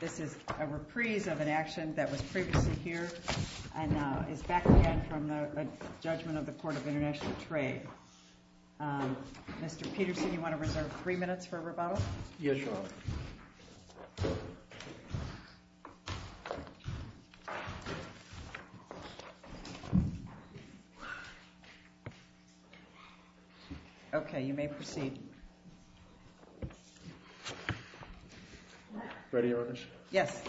This is a reprise of an action that was previously here and is back again from the Judgment of the Court of International Trade. Mr. Peterson, you want to reserve three minutes for rebuttal? Yes, Your Honor. Okay, you may proceed. Ready, Your Honors? Yes.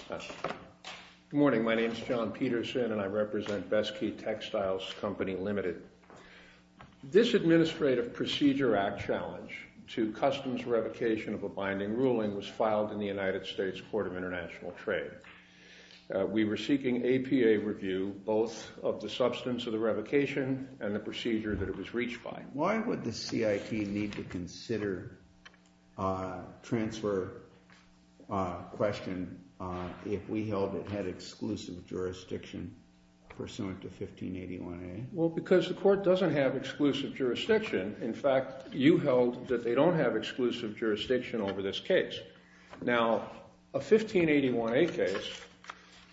Good morning. My name is John Peterson, and I represent Best Key Textiles Co. Ltd. This Administrative Procedure Act challenge to customs revocation of a binding ruling was filed in the United States Court of International Trade. We were seeking APA review, both of the substance of the revocation and the procedure that it was reached by. Why would the CIT need to consider a transfer question if we held it had exclusive jurisdiction pursuant to 1581A? Well, because the Court doesn't have exclusive jurisdiction. In fact, you held that they don't have exclusive jurisdiction over this case. Now, a 1581A case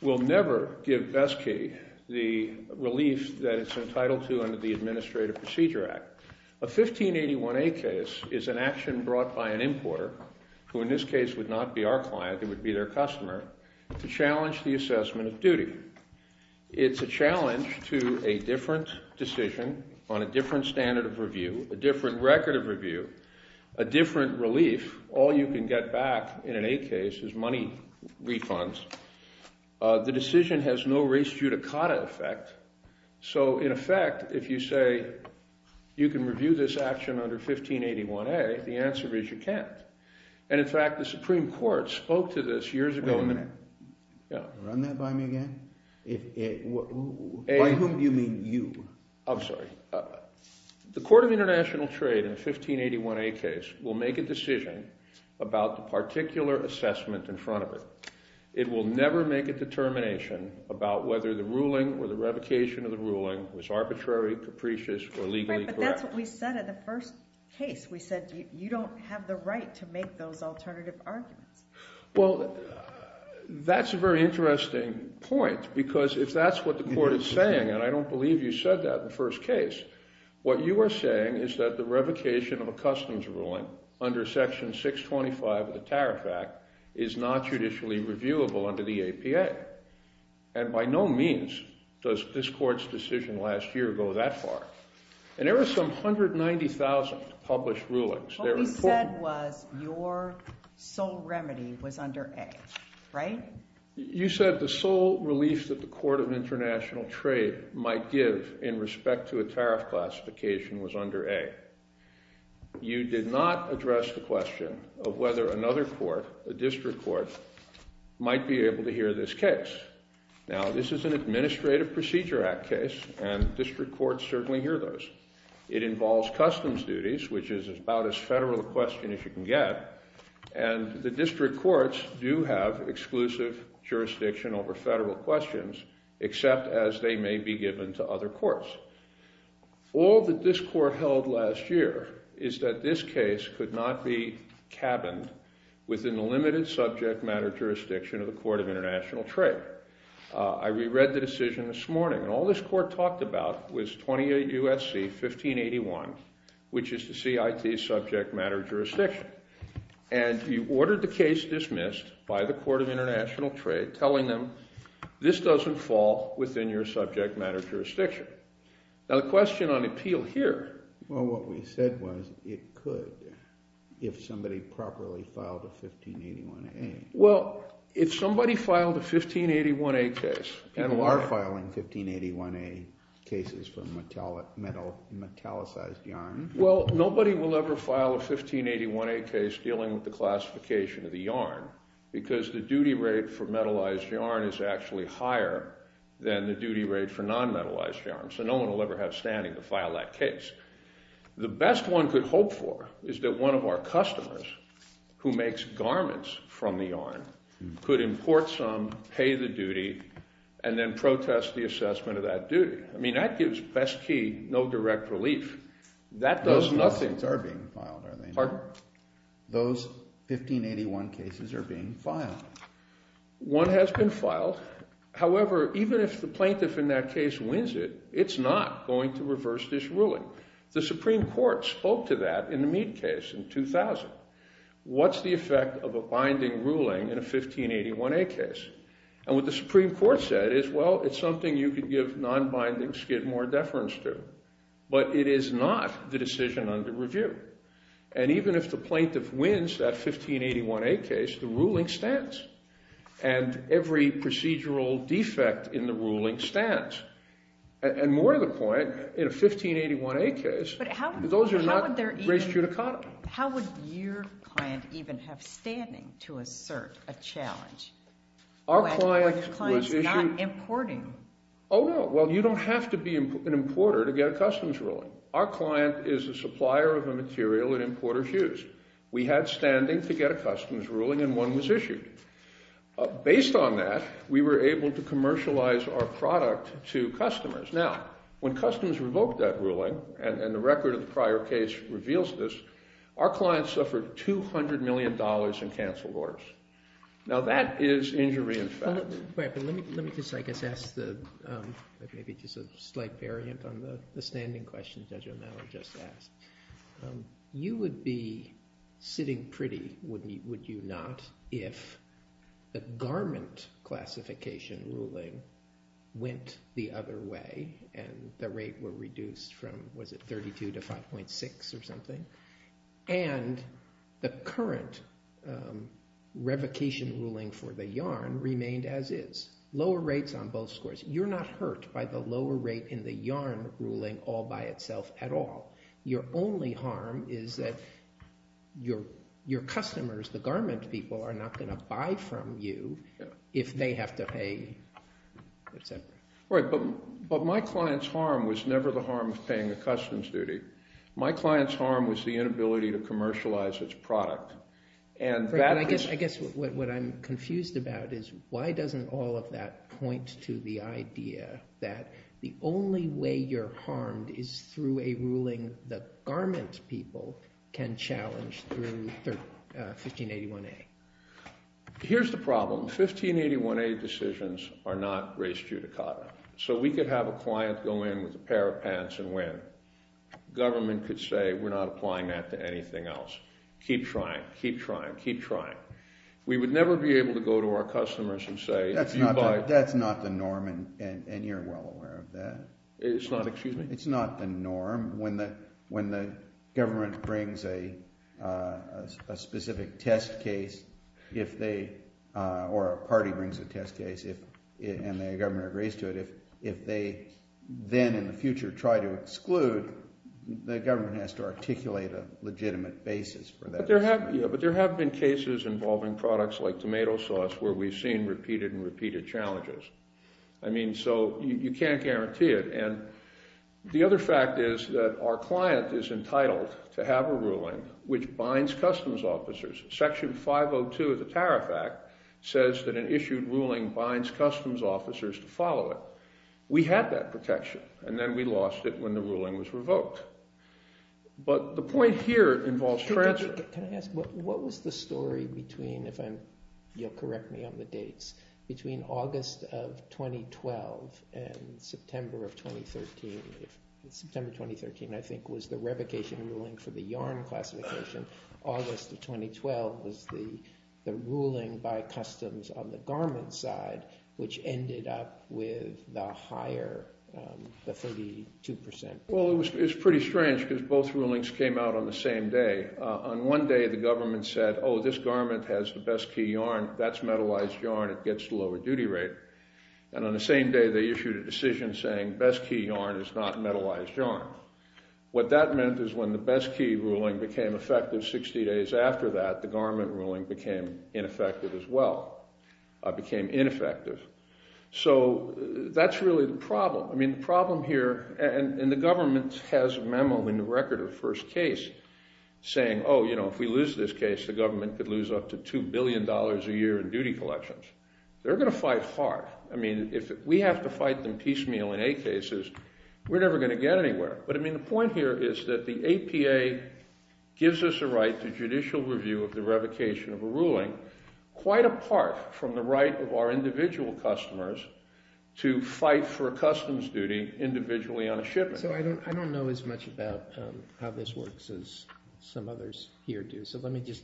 will never give Best Key the relief that it's entitled to under the Administrative Procedure Act. A 1581A case is an action brought by an importer, who in this case would not be our client, it would be their customer, to challenge the assessment of duty. It's a challenge to a different decision on a different standard of review, a different record of review, a different relief. All you can get back in an A case is money refunds. The decision has no res judicata effect. So in effect, if you say you can review this action under 1581A, the answer is you can't. And in fact, the Supreme Court spoke to this years ago. Run that by me again. By whom do you mean, you? I'm sorry. The Court of International Trade in a 1581A case will make a decision about the particular assessment in front of it. It will never make a determination about whether the ruling or the revocation of the ruling was arbitrary, capricious, or legally correct. Right, but that's what we said in the first case. We said you don't have the right to make those alternative arguments. Well, that's a very interesting point, because if that's what the Court is saying, and I don't believe you said that in the first case, what you are saying is that the revocation of a customs ruling under Section 625 of the Tariff Act is not judicially reviewable under the APA. And by no means does this Court's decision last year go that far. And there were some 190,000 published rulings. What we said was your sole remedy was under A, right? You said the sole relief that the Court of International Trade might give in respect to a tariff classification was under A. You did not address the question of whether another court, a district court, might be able to hear this case. Now this is an Administrative Procedure Act case, and district courts certainly hear those. It involves customs duties, which is about as federal a question as you can get, and the district courts do have exclusive jurisdiction over federal questions, except as they may be given to other courts. All that this Court held last year is that this case could not be cabined within the limited subject matter jurisdiction of the Court of International Trade. I re-read the decision this morning, and all this Court talked about was 28 U.S.C. 1581, which is the CIT's subject matter jurisdiction. And you ordered the case dismissed by the Court of International Trade, telling them this doesn't fall within your subject matter jurisdiction. Now the question on appeal here— Well, what we said was it could, if somebody properly filed a 1581A. Well, if somebody filed a 1581A case— People are filing 1581A cases for metallicized yarn. Well, nobody will ever file a 1581A case dealing with the classification of the yarn, because the duty rate for metallized yarn is actually higher than the duty rate for non-metallized yarn, so no one will ever have standing to file that case. The best one could hope for is that one of our customers, who makes garments from the yarn, could import some, pay the duty, and then protest the assessment of that duty. I mean, that gives, best key, no direct relief. That does nothing. Those cases are being filed, are they not? Pardon? Those 1581 cases are being filed. One has been filed, however, even if the plaintiff in that case wins it, it's not going to The Supreme Court spoke to that in the Mead case in 2000. What's the effect of a binding ruling in a 1581A case? And what the Supreme Court said is, well, it's something you could give non-binding skid more deference to, but it is not the decision under review. And even if the plaintiff wins that 1581A case, the ruling stands, and every procedural defect in the ruling stands. And more to the point, in a 1581A case, those are not res judicata. How would your client even have standing to assert a challenge when your client is not importing? Oh, no. Well, you don't have to be an importer to get a customs ruling. Our client is a supplier of a material that importers use. We had standing to get a customs ruling, and one was issued. Based on that, we were able to commercialize our product to customers. Now, when customs revoked that ruling, and the record of the prior case reveals this, our client suffered $200 million in canceled orders. Now that is injury in fact. Wait, but let me just, I guess, ask the, maybe just a slight variant on the standing question Judge O'Malley just asked. You would be sitting pretty, would you not, if the garment classification ruling went the other way, and the rate were reduced from, was it 32 to 5.6 or something? And the current revocation ruling for the yarn remained as is. Lower rates on both scores. You're not hurt by the lower rate in the yarn ruling all by itself at all. Your only harm is that your customers, the garment people, are not going to buy from you if they have to pay, et cetera. Right, but my client's harm was never the harm of paying the customs duty. My client's harm was the inability to commercialize its product, and that is- I guess what I'm confused about is why doesn't all of that point to the idea that the only way you're harmed is through a ruling the garment people can challenge through 1581A? Here's the problem. 1581A decisions are not res judicata. So we could have a client go in with a pair of pants and win. Government could say we're not applying that to anything else. Keep trying, keep trying, keep trying. We would never be able to go to our customers and say if you buy- That's not the norm and you're well aware of that. It's not, excuse me? It's not the norm. When the government brings a specific test case or a party brings a test case and the government agrees to it, if they then in the future try to exclude, the government has to articulate a legitimate basis for that. But there have been cases involving products like tomato sauce where we've seen repeated and repeated challenges. I mean, so you can't guarantee it. And the other fact is that our client is entitled to have a ruling which binds customs officers. Section 502 of the Tariff Act says that an issued ruling binds customs officers to follow it. We had that protection and then we lost it when the ruling was revoked. But the point here involves- What was the story between, if you'll correct me on the dates, between August of 2012 and September of 2013? September 2013, I think, was the revocation ruling for the yarn classification. August of 2012 was the ruling by customs on the garment side, which ended up with the higher, the 32%. Well, it was pretty strange because both rulings came out on the same day. On one day, the government said, oh, this garment has the best key yarn. That's metallized yarn. It gets the lower duty rate. And on the same day, they issued a decision saying best key yarn is not metallized yarn. What that meant is when the best key ruling became effective 60 days after that, the garment ruling became ineffective as well, became ineffective. So that's really the problem. The problem here, and the government has a memo in the record of the first case saying, oh, if we lose this case, the government could lose up to $2 billion a year in duty collections. They're going to fight hard. We have to fight them piecemeal in eight cases. We're never going to get anywhere. But the point here is that the APA gives us a right to judicial review of the revocation of a ruling quite apart from the right of our individual customers to fight for a customs duty individually on a shipment. So I don't know as much about how this works as some others here do. So let me just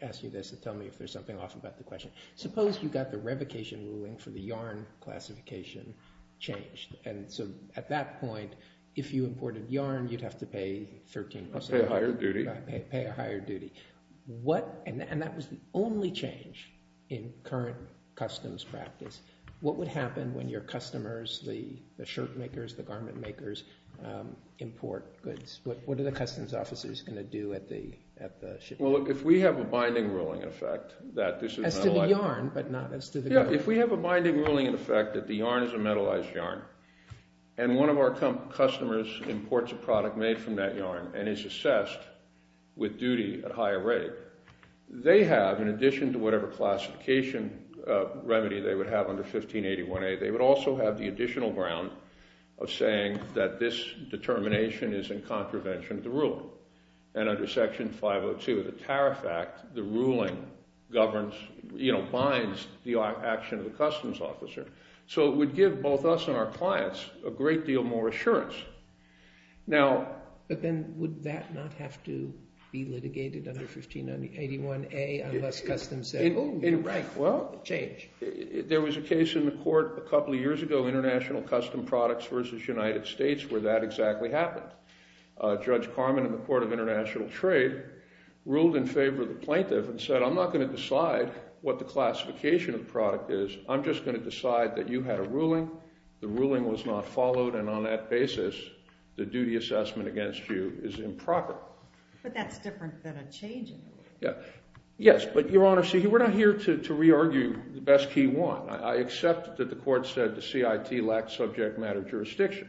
ask you this and tell me if there's something off about the question. Suppose you got the revocation ruling for the yarn classification changed. And so at that point, if you imported yarn, you'd have to pay 13% higher duty, pay a higher duty. What and that was the only change in current customs practice. What would happen when your customers, the shirt makers, the garment makers, import goods? What are the customs officers going to do at the shipping? Well, look, if we have a binding ruling in effect that this is— As to the yarn, but not as to the— Yeah, if we have a binding ruling in effect that the yarn is a metallized yarn and one of our customers imports a product made from that yarn and is assessed with duty at a higher They have, in addition to whatever classification remedy they would have under 1581A, they would also have the additional ground of saying that this determination is in contravention of the rule. And under Section 502 of the Tariff Act, the ruling governs, you know, binds the action of the customs officer. So it would give both us and our clients a great deal more assurance. Now— But then would that not have to be litigated under 1581A unless customs said, oh, right, well, change. There was a case in the court a couple of years ago, International Custom Products versus United States, where that exactly happened. Judge Carman in the Court of International Trade ruled in favor of the plaintiff and said, I'm not going to decide what the classification of product is. I'm just going to decide that you had a ruling. The ruling was not followed. And on that basis, the duty assessment against you is improper. But that's different than a change in the ruling. Yeah, yes. But, Your Honor, see, we're not here to re-argue the best key one. I accept that the court said the CIT lacked subject matter jurisdiction.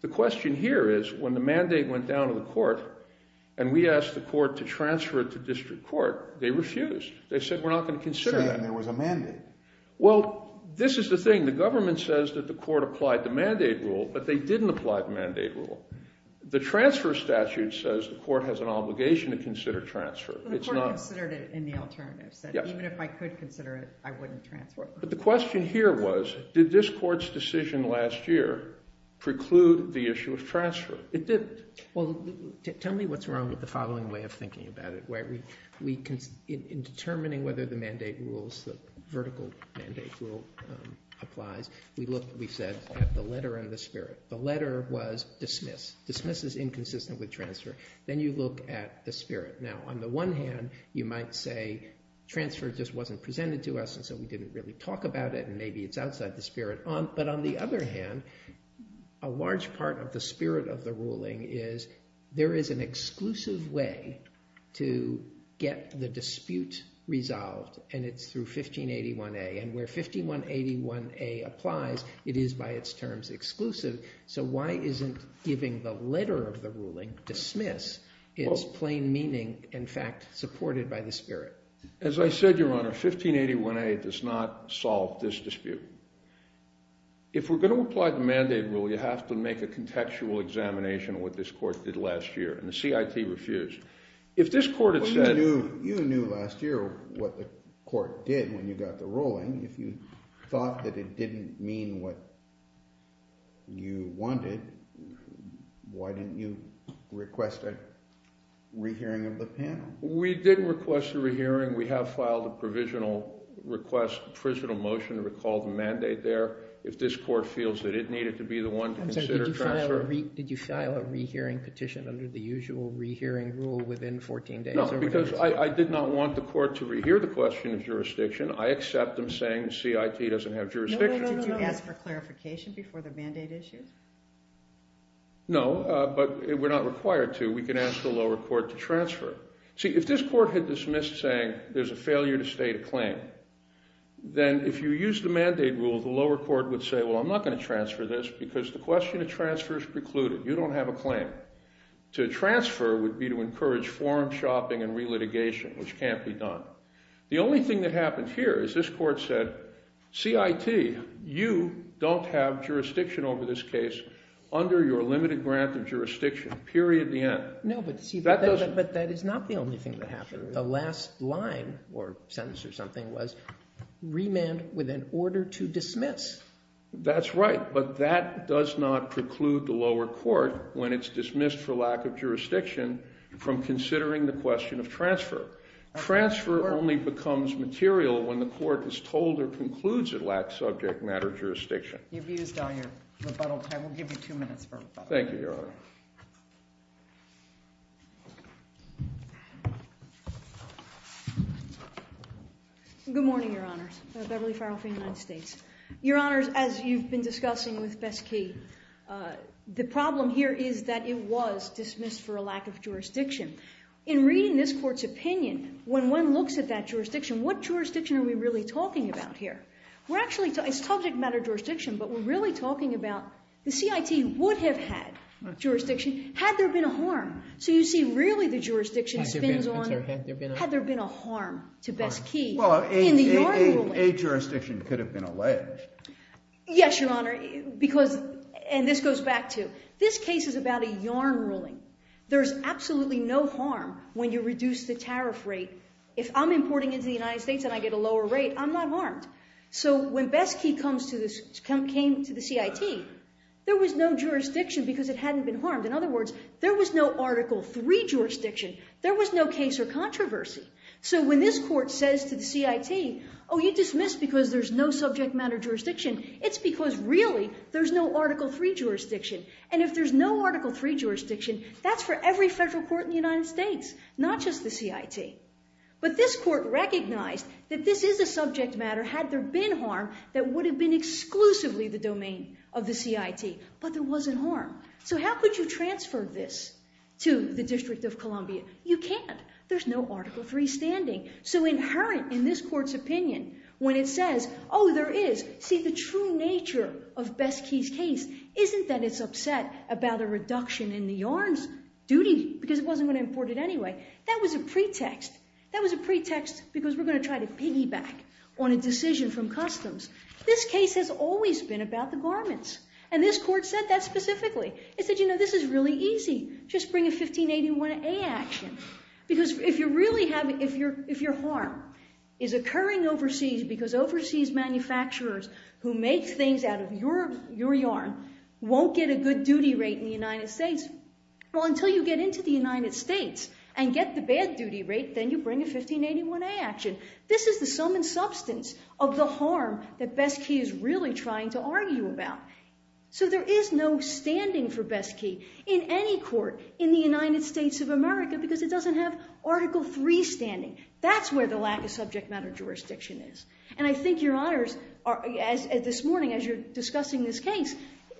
The question here is, when the mandate went down to the court and we asked the court to transfer it to district court, they refused. They said, we're not going to consider that. Saying there was a mandate. Well, this is the thing. The government says that the court applied the mandate rule, but they didn't apply the mandate rule. The transfer statute says the court has an obligation to consider transfer. The court considered it in the alternative. Even if I could consider it, I wouldn't transfer it. But the question here was, did this court's decision last year preclude the issue of transfer? It didn't. Well, tell me what's wrong with the following way of thinking about it. In determining whether the mandate rules, the vertical mandate rule applies, we looked, we said, at the letter and the spirit. The letter was dismiss. Dismiss is inconsistent with transfer. Then you look at the spirit. Now, on the one hand, you might say transfer just wasn't presented to us, and so we didn't really talk about it, and maybe it's outside the spirit. But on the other hand, a large part of the spirit of the ruling is there is an exclusive way to get the dispute resolved, and it's through 1581A. And where 1581A applies, it is, by its terms, exclusive. So why isn't giving the letter of the ruling, dismiss, its plain meaning, in fact, supported by the spirit? As I said, Your Honor, 1581A does not solve this dispute. If we're going to apply the mandate rule, you have to make a contextual examination of what this court did last year, and the CIT refused. If this court had said— You knew last year what the court did when you got the ruling. If you thought that it didn't mean what you wanted, why didn't you request a rehearing of the panel? We didn't request a rehearing. We have filed a provisional request, a provisional motion to recall the mandate there. If this court feels that it needed to be the one to consider transfer— Did you file a rehearing petition under the usual rehearing rule within 14 days? No, because I did not want the court to rehear the question of jurisdiction. I accept them saying the CIT doesn't have jurisdiction. No, no, no, no, no. Did you ask for clarification before the mandate issue? No, but we're not required to. We can ask the lower court to transfer. See, if this court had dismissed saying there's a failure to state a claim, then if you use the mandate rule, the lower court would say, well, I'm not going to transfer this because the question of transfer is precluded. You don't have a claim. To transfer would be to encourage foreign shopping and relitigation, which can't be done. The only thing that happened here is this court said, CIT, you don't have jurisdiction over this case under your limited grant of jurisdiction, period, the end. No, but that is not the only thing that happened. That's right, but that does not preclude the lower court when it's dismissed for lack of jurisdiction from considering the question of transfer. Transfer only becomes material when the court is told or concludes it lacks subject matter jurisdiction. You've used all your rebuttal time. We'll give you two minutes for rebuttal. Thank you, Your Honor. Good morning, Your Honors. Beverly Farrell from the United States. Your Honors, as you've been discussing with Besky, the problem here is that it was dismissed for a lack of jurisdiction. In reading this court's opinion, when one looks at that jurisdiction, what jurisdiction are we really talking about here? We're actually talking, it's subject matter jurisdiction, but we're really talking about the CIT would have had jurisdiction had there been a harm. So you see, really, the jurisdiction spins on, had there been a harm to Besky in the yard ruling. A jurisdiction could have been alleged. Yes, Your Honor, because, and this goes back to, this case is about a yarn ruling. There's absolutely no harm when you reduce the tariff rate. If I'm importing into the United States and I get a lower rate, I'm not harmed. So when Besky came to the CIT, there was no jurisdiction because it hadn't been harmed. In other words, there was no Article III jurisdiction. There was no case or controversy. So when this court says to the CIT, oh, you dismissed because there's no subject matter jurisdiction, it's because, really, there's no Article III jurisdiction. And if there's no Article III jurisdiction, that's for every federal court in the United States, not just the CIT. But this court recognized that this is a subject matter had there been harm that would have been exclusively the domain of the CIT, but there wasn't harm. So how could you transfer this to the District of Columbia? You can't. There's no Article III standing. So inherent in this court's opinion, when it says, oh, there is, see, the true nature of Besky's case isn't that it's upset about a reduction in the yarn's duty because it wasn't going to import it anyway. That was a pretext. That was a pretext because we're going to try to piggyback on a decision from customs. This case has always been about the garments. And this court said that specifically. It said, you know, this is really easy. Just bring a 1581A action. Because if your harm is occurring overseas because overseas manufacturers who make things out of your yarn won't get a good duty rate in the United States, well, until you get into the United States and get the bad duty rate, then you bring a 1581A action. This is the sum and substance of the harm that Besky is really trying to argue about. So there is no standing for Besky. In any court in the United States of America, because it doesn't have Article III standing. That's where the lack of subject matter jurisdiction is. And I think, Your Honors, this morning as you're discussing this case,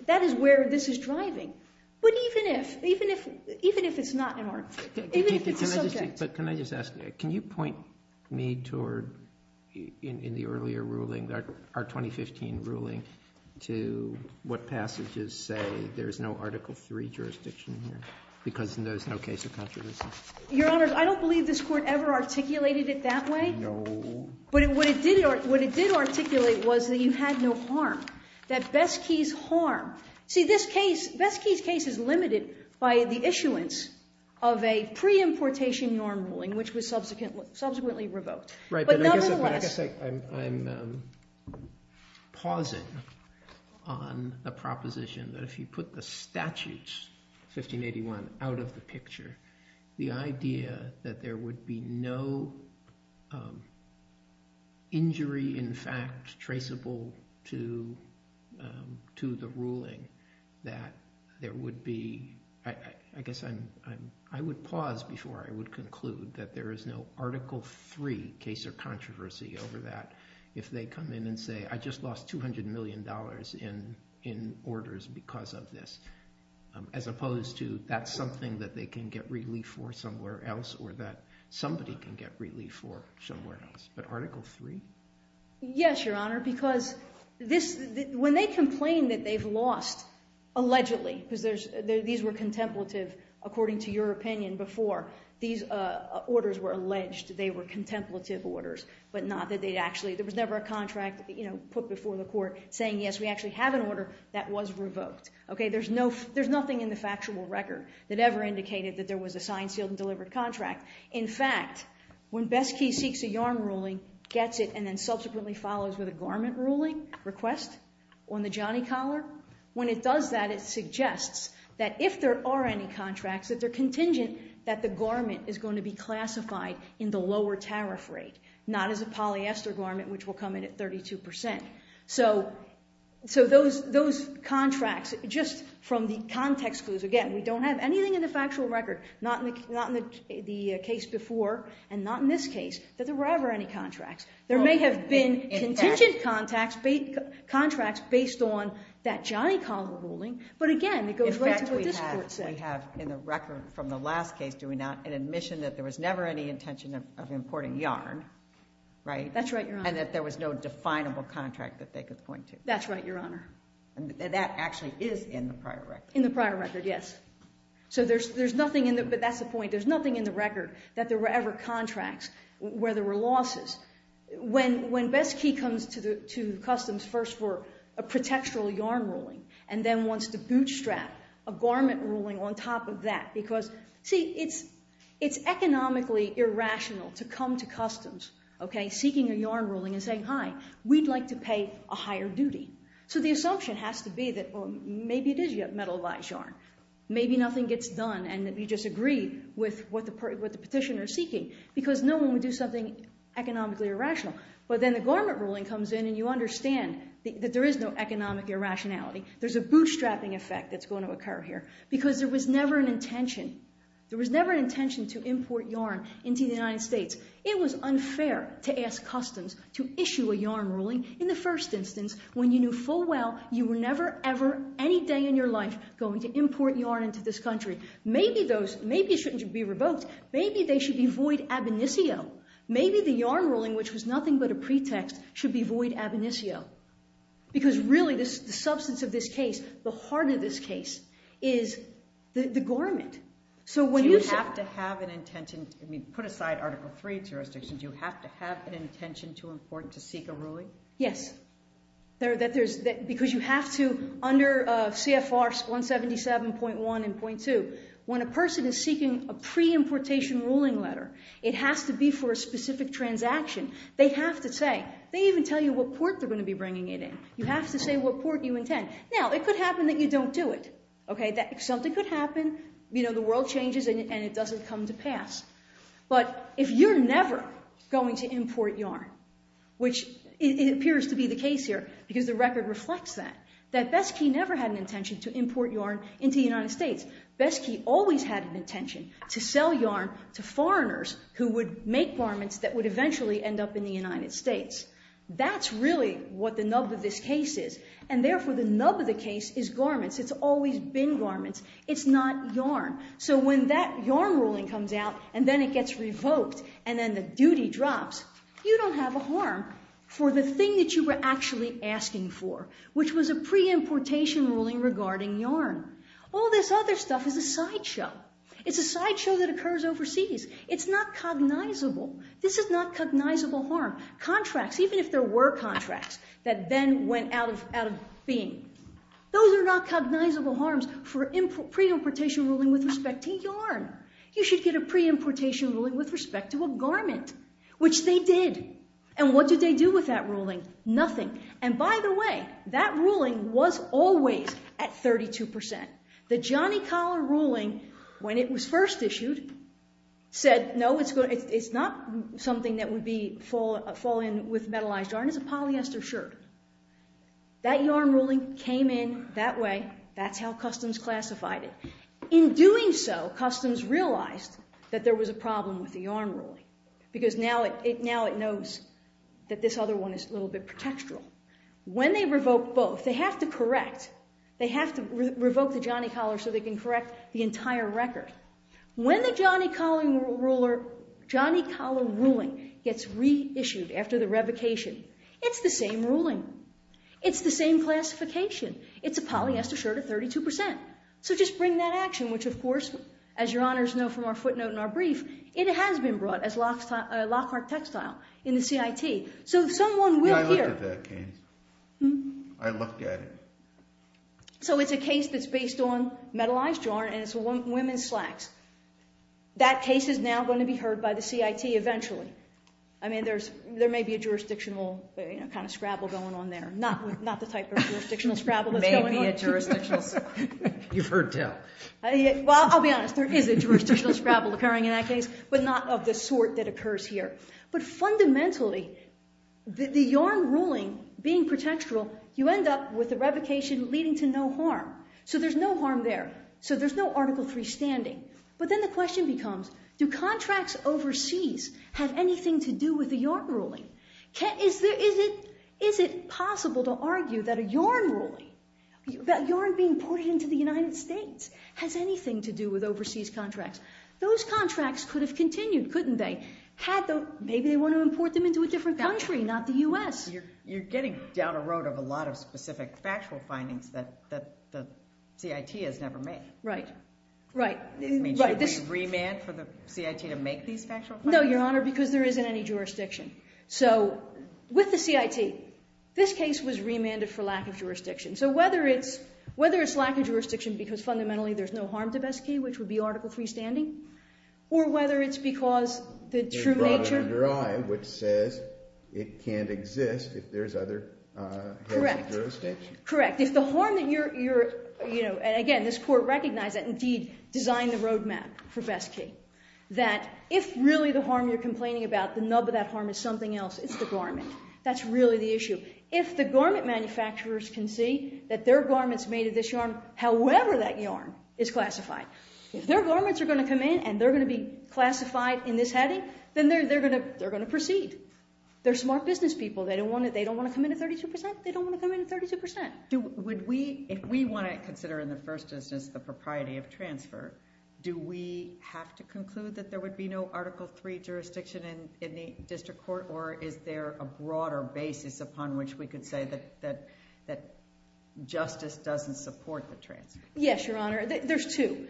that is where this is driving. But even if it's not an article, even if it's a subject. But can I just ask, can you point me toward, in the earlier ruling, our 2015 ruling, to what passages say there's no Article III jurisdiction here? Because there's no case of controversy. Your Honors, I don't believe this court ever articulated it that way. No. But what it did articulate was that you had no harm. That Besky's harm. See, this case, Besky's case is limited by the issuance of a pre-importation norm ruling, which was subsequently revoked. Right. But I guess I'm pausing. The proposition that if you put the statutes, 1581, out of the picture, the idea that there would be no injury, in fact, traceable to the ruling, that there would be, I guess I'm, I would pause before I would conclude that there is no Article III case of controversy over that. If they come in and say, I just lost $200 million in orders because of this, as opposed to that's something that they can get relief for somewhere else, or that somebody can get relief for somewhere else. But Article III? Yes, Your Honor. Because when they complain that they've lost, allegedly, because these were contemplative, according to your opinion, before these orders were alleged, they were contemplative orders, but not that they'd actually, there was never a contract, you know, put before the court saying, yes, we actually have an order that was revoked. Okay. There's no, there's nothing in the factual record that ever indicated that there was a signed, sealed, and delivered contract. In fact, when Besky seeks a yarn ruling, gets it, and then subsequently follows with a garment ruling request on the Johnny Collar, when it does that, it suggests that if there are any contracts, that they're contingent that the garment is going to be classified in the tariff rate, not as a polyester garment, which will come in at 32%. So those contracts, just from the context clues, again, we don't have anything in the factual record, not in the case before, and not in this case, that there were ever any contracts. There may have been contingent contracts based on that Johnny Collar ruling, but again, it goes right to what this court said. In fact, we have, in the record from the last case, an admission that there was never any intention of importing yarn, right? That's right, Your Honor. And that there was no definable contract that they could point to. That's right, Your Honor. That actually is in the prior record. In the prior record, yes. So there's nothing in the, but that's the point. There's nothing in the record that there were ever contracts where there were losses. When Besky comes to the Customs first for a protectural yarn ruling, and then wants to bootstrap a garment ruling on top of that, because, see, it's economically irrational to come to Customs, okay, seeking a yarn ruling and saying, hi, we'd like to pay a higher duty. So the assumption has to be that, well, maybe it is metalized yarn. Maybe nothing gets done, and you just agree with what the petitioner is seeking, because no one would do something economically irrational. But then the garment ruling comes in, and you understand that there is no economic irrationality. There's a bootstrapping effect that's going to occur here, because there was never an intention. There was never an intention to import yarn into the United States. It was unfair to ask Customs to issue a yarn ruling in the first instance, when you knew full well you were never, ever, any day in your life going to import yarn into this country. Maybe those, maybe it shouldn't be revoked. Maybe they should be void ab initio. Maybe the yarn ruling, which was nothing but a pretext, should be void ab initio. Because really, the substance of this case, the heart of this case, is the garment. So when you say- Do you have to have an intention, I mean, put aside Article III jurisdictions, do you have to have an intention to import, to seek a ruling? Yes. Because you have to, under CFR 177.1 and .2, when a person is seeking a pre-importation ruling letter, it has to be for a specific transaction. They have to say, they even tell you what port they're going to be bringing it in. You have to say what port you intend. Now, it could happen that you don't do it. Okay, something could happen, you know, the world changes and it doesn't come to pass. But if you're never going to import yarn, which it appears to be the case here, because the record reflects that, that Beskey never had an intention to import yarn into the United States. Beskey always had an intention to sell yarn to foreigners who would make garments that would eventually end up in the United States. That's really what the nub of this case is. And therefore, the nub of the case is garments. It's always been garments. It's not yarn. So when that yarn ruling comes out and then it gets revoked and then the duty drops, you don't have a harm for the thing that you were actually asking for, which was a pre-importation ruling regarding yarn. All this other stuff is a sideshow. It's a sideshow that occurs overseas. It's not cognizable. This is not cognizable harm. Contracts, even if there were contracts that then went out of being, those are not cognizable harms for pre-importation ruling with respect to yarn. You should get a pre-importation ruling with respect to a garment, which they did. And what did they do with that ruling? Nothing. And by the way, that ruling was always at 32%. The Johnny Collar ruling, when it was first issued, said, no, it's not something that would fall in with metallized yarn. It's a polyester shirt. That yarn ruling came in that way. That's how Customs classified it. In doing so, Customs realized that there was a problem with the yarn ruling, because now it knows that this other one is a little bit pretextual. When they revoke both, they have to correct. They have to revoke the Johnny Collar so they can correct the entire record. When the Johnny Collar ruling gets reissued after the revocation, it's the same ruling. It's the same classification. It's a polyester shirt at 32%. So just bring that action, which of course, as your honors know from our footnote in our brief, it has been brought as lockwork textile in the CIT. So someone will hear- I looked at that case. I looked at it. So it's a case that's based on metallized yarn, and it's women's slacks. That case is now going to be heard by the CIT eventually. I mean, there may be a jurisdictional kind of scrabble going on there. Not the type of jurisdictional scrabble that's going on. Maybe a jurisdictional scrabble. You've heard tell. Well, I'll be honest. There is a jurisdictional scrabble occurring in that case, but not of the sort that occurs here. But fundamentally, the yarn ruling being protectoral, you end up with the revocation leading to no harm. So there's no harm there. So there's no Article III standing. But then the question becomes, do contracts overseas have anything to do with the yarn ruling? Is it possible to argue that a yarn ruling, that yarn being imported into the United States has anything to do with overseas contracts? Those contracts could have continued, couldn't they? Maybe they want to import them into a different country, not the U.S. You're getting down a road of a lot of specific factual findings that the CIT has never made. Right, right. I mean, should we remand for the CIT to make these factual findings? No, Your Honor, because there isn't any jurisdiction. So with the CIT, this case was remanded for lack of jurisdiction. So whether it's lack of jurisdiction because fundamentally there's no harm to Besky, which is the true nature. It's brought under your eye, which says it can't exist if there's other jurisdiction. Correct. If the harm that you're, you know, and again, this Court recognized that indeed designed the roadmap for Besky, that if really the harm you're complaining about, the nub of that harm is something else, it's the garment. That's really the issue. If the garment manufacturers can see that their garment's made of this yarn, however that yarn is classified, if their garments are going to come in and they're going to be classified in this heading, then they're going to proceed. They're smart business people. They don't want to come in at 32%. They don't want to come in at 32%. If we want to consider in the first instance the propriety of transfer, do we have to conclude that there would be no Article III jurisdiction in the district court? Or is there a broader basis upon which we could say that justice doesn't support the transfer? Yes, Your Honor. There's two.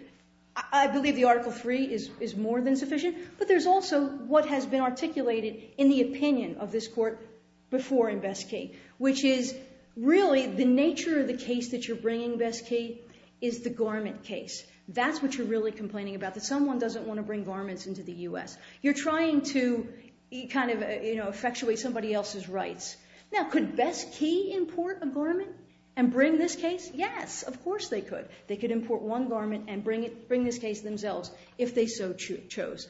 I believe the Article III is more than sufficient. But there's also what has been articulated in the opinion of this Court before in Besky, which is really the nature of the case that you're bringing, Besky, is the garment case. That's what you're really complaining about, that someone doesn't want to bring garments into the U.S. You're trying to kind of, you know, effectuate somebody else's rights. Now, could Besky import a garment and bring this case? Yes, of course they could. They could import one garment and bring this case themselves if they so chose.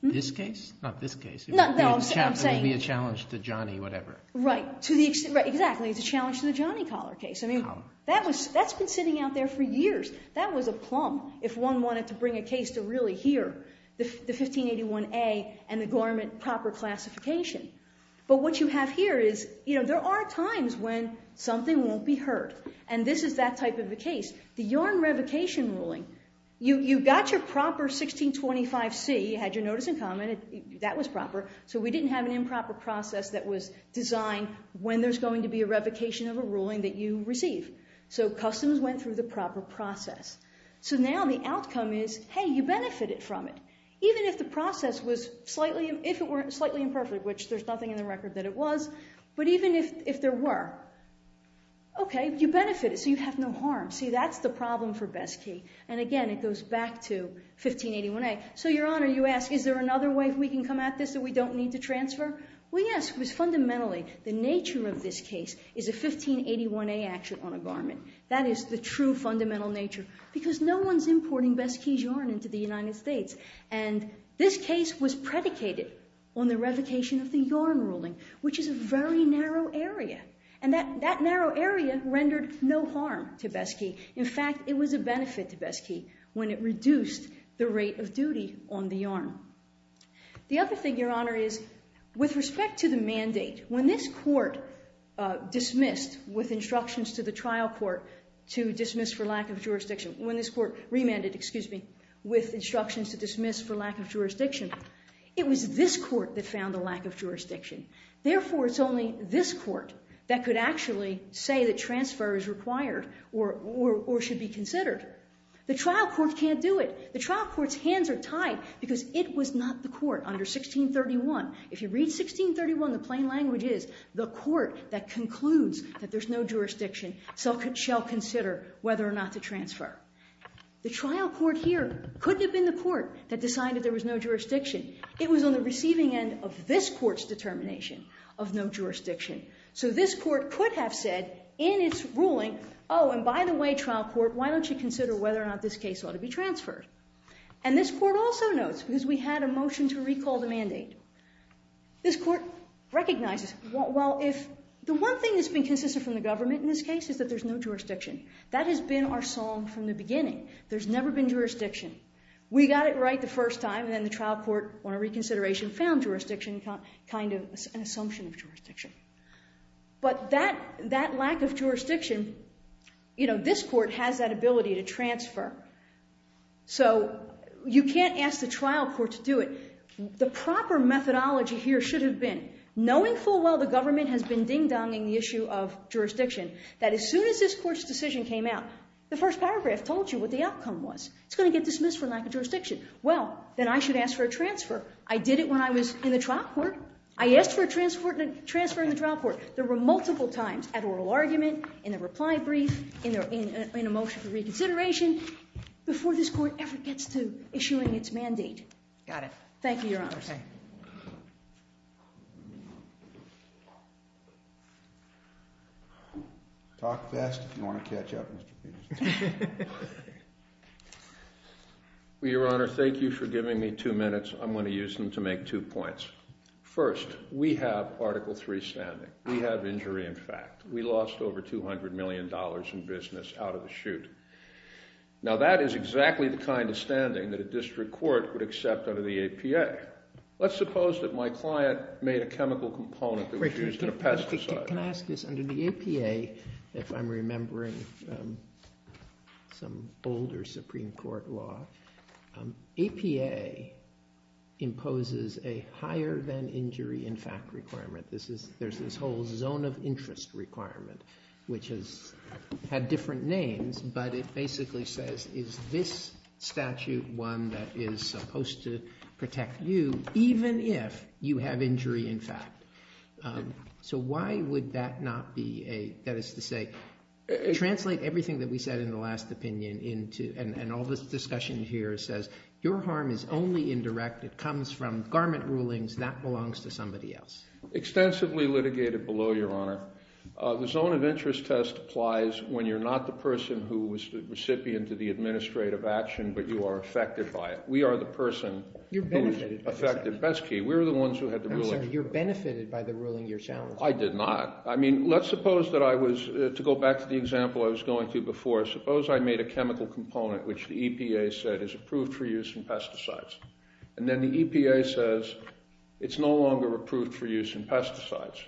Not this case? Not this case. No, I'm saying— It would be a challenge to Johnny, whatever. Right. To the extent—exactly. It's a challenge to the Johnny Collar case. I mean, that's been sitting out there for years. That was a plumb if one wanted to bring a case to really hear the 1581A and the garment proper classification. But what you have here is, you know, there are times when something won't be heard. And this is that type of a case. The yarn revocation ruling, you got your proper 1625C, had your notice in common. That was proper. So we didn't have an improper process that was designed when there's going to be a revocation of a ruling that you receive. So customs went through the proper process. So now the outcome is, hey, you benefited from it. Even if the process was slightly—if it were slightly imperfect, which there's nothing in the record that it was. But even if there were, okay, you benefited. So you have no harm. See, that's the problem for Besky. And again, it goes back to 1581A. So, Your Honor, you ask, is there another way we can come at this that we don't need to transfer? Well, yes, because fundamentally, the nature of this case is a 1581A action on a garment. That is the true fundamental nature. Because no one's importing Besky's yarn into the United States. And this case was predicated on the revocation of the yarn ruling, which is a very narrow area. And that narrow area rendered no harm to Besky. In fact, it was a benefit to Besky when it reduced the rate of duty on the yarn. The other thing, Your Honor, is with respect to the mandate, when this court dismissed with instructions to the trial court to dismiss for lack of jurisdiction—when this court remanded, excuse me, with instructions to dismiss for lack of jurisdiction—it was this court that found a lack of jurisdiction. Therefore, it's only this court that could actually say that transfer is required or should be considered. The trial court can't do it. The trial court's hands are tied because it was not the court under 1631. If you read 1631, the plain language is, the court that concludes that there's no jurisdiction shall consider whether or not to transfer. The trial court here couldn't have been the court that decided there was no jurisdiction. It was on the receiving end of this court's determination of no jurisdiction. So this court could have said in its ruling, oh, and by the way, trial court, why don't you consider whether or not this case ought to be transferred? And this court also notes, because we had a motion to recall the mandate, this court recognizes, well, if the one thing that's been consistent from the government in this That has been our song from the beginning. There's never been jurisdiction. We got it right the first time, and then the trial court, on a reconsideration, found jurisdiction, kind of an assumption of jurisdiction. But that lack of jurisdiction, you know, this court has that ability to transfer. So you can't ask the trial court to do it. The proper methodology here should have been, knowing full well the government has been dogging the issue of jurisdiction, that as soon as this court's decision came out, the first paragraph told you what the outcome was. It's going to get dismissed for lack of jurisdiction. Well, then I should ask for a transfer. I did it when I was in the trial court. I asked for a transfer in the trial court. There were multiple times, at oral argument, in a reply brief, in a motion for reconsideration, before this court ever gets to issuing its mandate. Got it. Thank you, Your Honors. Talk fast, if you want to catch up, Mr. Peterson. Well, Your Honor, thank you for giving me two minutes. I'm going to use them to make two points. First, we have Article III standing. We have injury, in fact. We lost over $200 million in business out of the chute. Now, that is exactly the kind of standing that a district court would accept under the APA. Let's suppose that my client made a chemical component that was used in a pesticide. Under the APA, if I'm remembering some older Supreme Court law, APA imposes a higher than injury, in fact, requirement. There's this whole zone of interest requirement, which has had different names. But it basically says, is this statute one that is supposed to protect you, even if you have injury, in fact? So why would that not be a, that is to say, translate everything that we said in the last opinion into, and all this discussion here says, your harm is only indirect. It comes from garment rulings. That belongs to somebody else. Extensively litigated below, Your Honor, the zone of interest test applies when you're not the person who was the recipient of the administrative action, but you are affected by it. We are the person who's affected. Besky, we're the ones who had the ruling. You're benefited by the ruling you're challenging. I did not. I mean, let's suppose that I was, to go back to the example I was going to before, suppose I made a chemical component, which the EPA said is approved for use in pesticides. And then the EPA says, it's no longer approved for use in pesticides.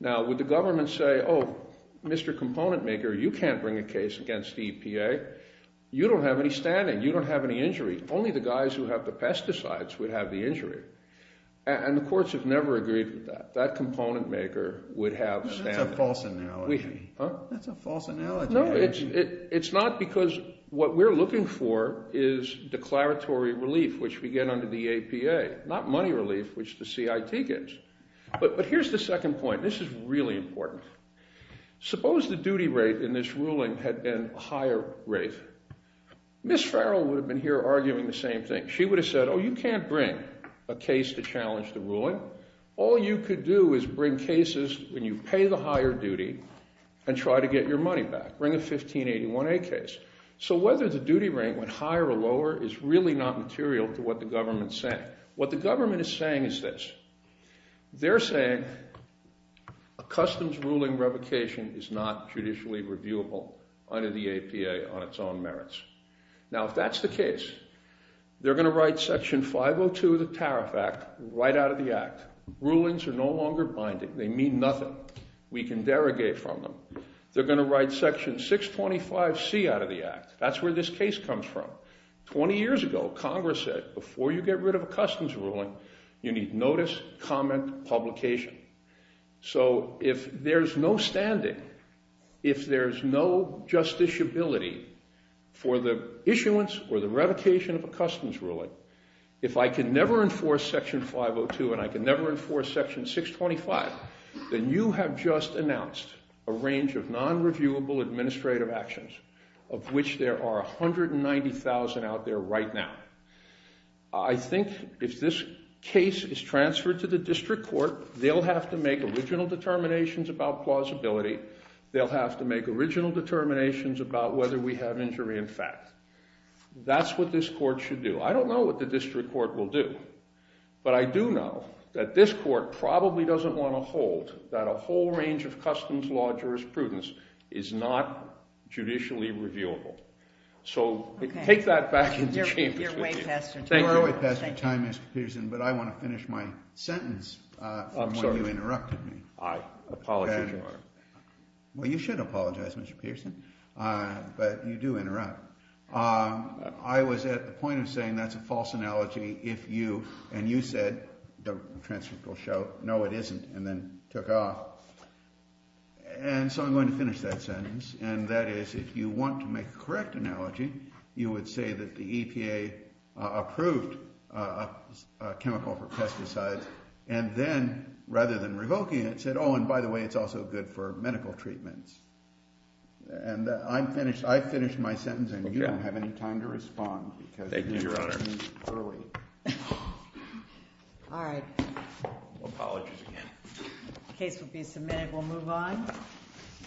Now, would the government say, oh, Mr. Component Maker, you can't bring a case against the EPA. You don't have any standing. You don't have any injury. Only the guys who have the pesticides would have the injury. And the courts have never agreed with that. That Component Maker would have standing. That's a false analogy. Huh? That's a false analogy. No, it's not because what we're looking for is declaratory relief, which we get under the EPA, not money relief, which the CIT gets. But here's the second point. This is really important. Suppose the duty rate in this ruling had been a higher rate. Ms. Farrell would have been here arguing the same thing. She would have said, oh, you can't bring a case to challenge the ruling. All you could do is bring cases when you pay the higher duty and try to get your money back. Bring a 1581A case. So whether the duty rate went higher or lower is really not material to what the government's saying. What the government is saying is this. They're saying a customs ruling revocation is not judicially reviewable under the EPA on its own merits. Now, if that's the case, they're going to write Section 502 of the Tariff Act right out of the act. Rulings are no longer binding. They mean nothing. We can derogate from them. They're going to write Section 625C out of the act. That's where this case comes from. 20 years ago, Congress said before you get rid of a customs ruling, you need notice, comment, publication. So if there's no standing, if there's no justiciability for the issuance or the revocation of a customs ruling, if I can never enforce Section 502 and I can never enforce Section 625, then you have just announced a range of non-reviewable administrative actions of which there are 190,000 out there right now. I think if this case is transferred to the district court, they'll have to make original determinations about plausibility. They'll have to make original determinations about whether we have injury in fact. That's what this court should do. I don't know what the district court will do, but I do know that this court probably doesn't want to hold that a whole range of customs law jurisprudence is not judicially reviewable. So take that back to the chambers with you. You're way past your time, Mr. Peterson, but I want to finish my sentence from when you interrupted me. I apologize, Your Honor. Well, you should apologize, Mr. Peterson, but you do interrupt. I was at the point of saying that's a false analogy if you, and you said, the transcript will show, no it isn't, and then took off. And so I'm going to finish that sentence, and that is, if you want to make a correct analogy, you would say that the EPA approved a chemical for pesticides, and then, rather than revoking it, said, oh, and by the way, it's also good for medical treatments. And I finished my sentence, and you don't have any time to respond. Thank you, Your Honor. Because you interrupted me early. All right. Apologies again. The case will be submitted. We'll move on.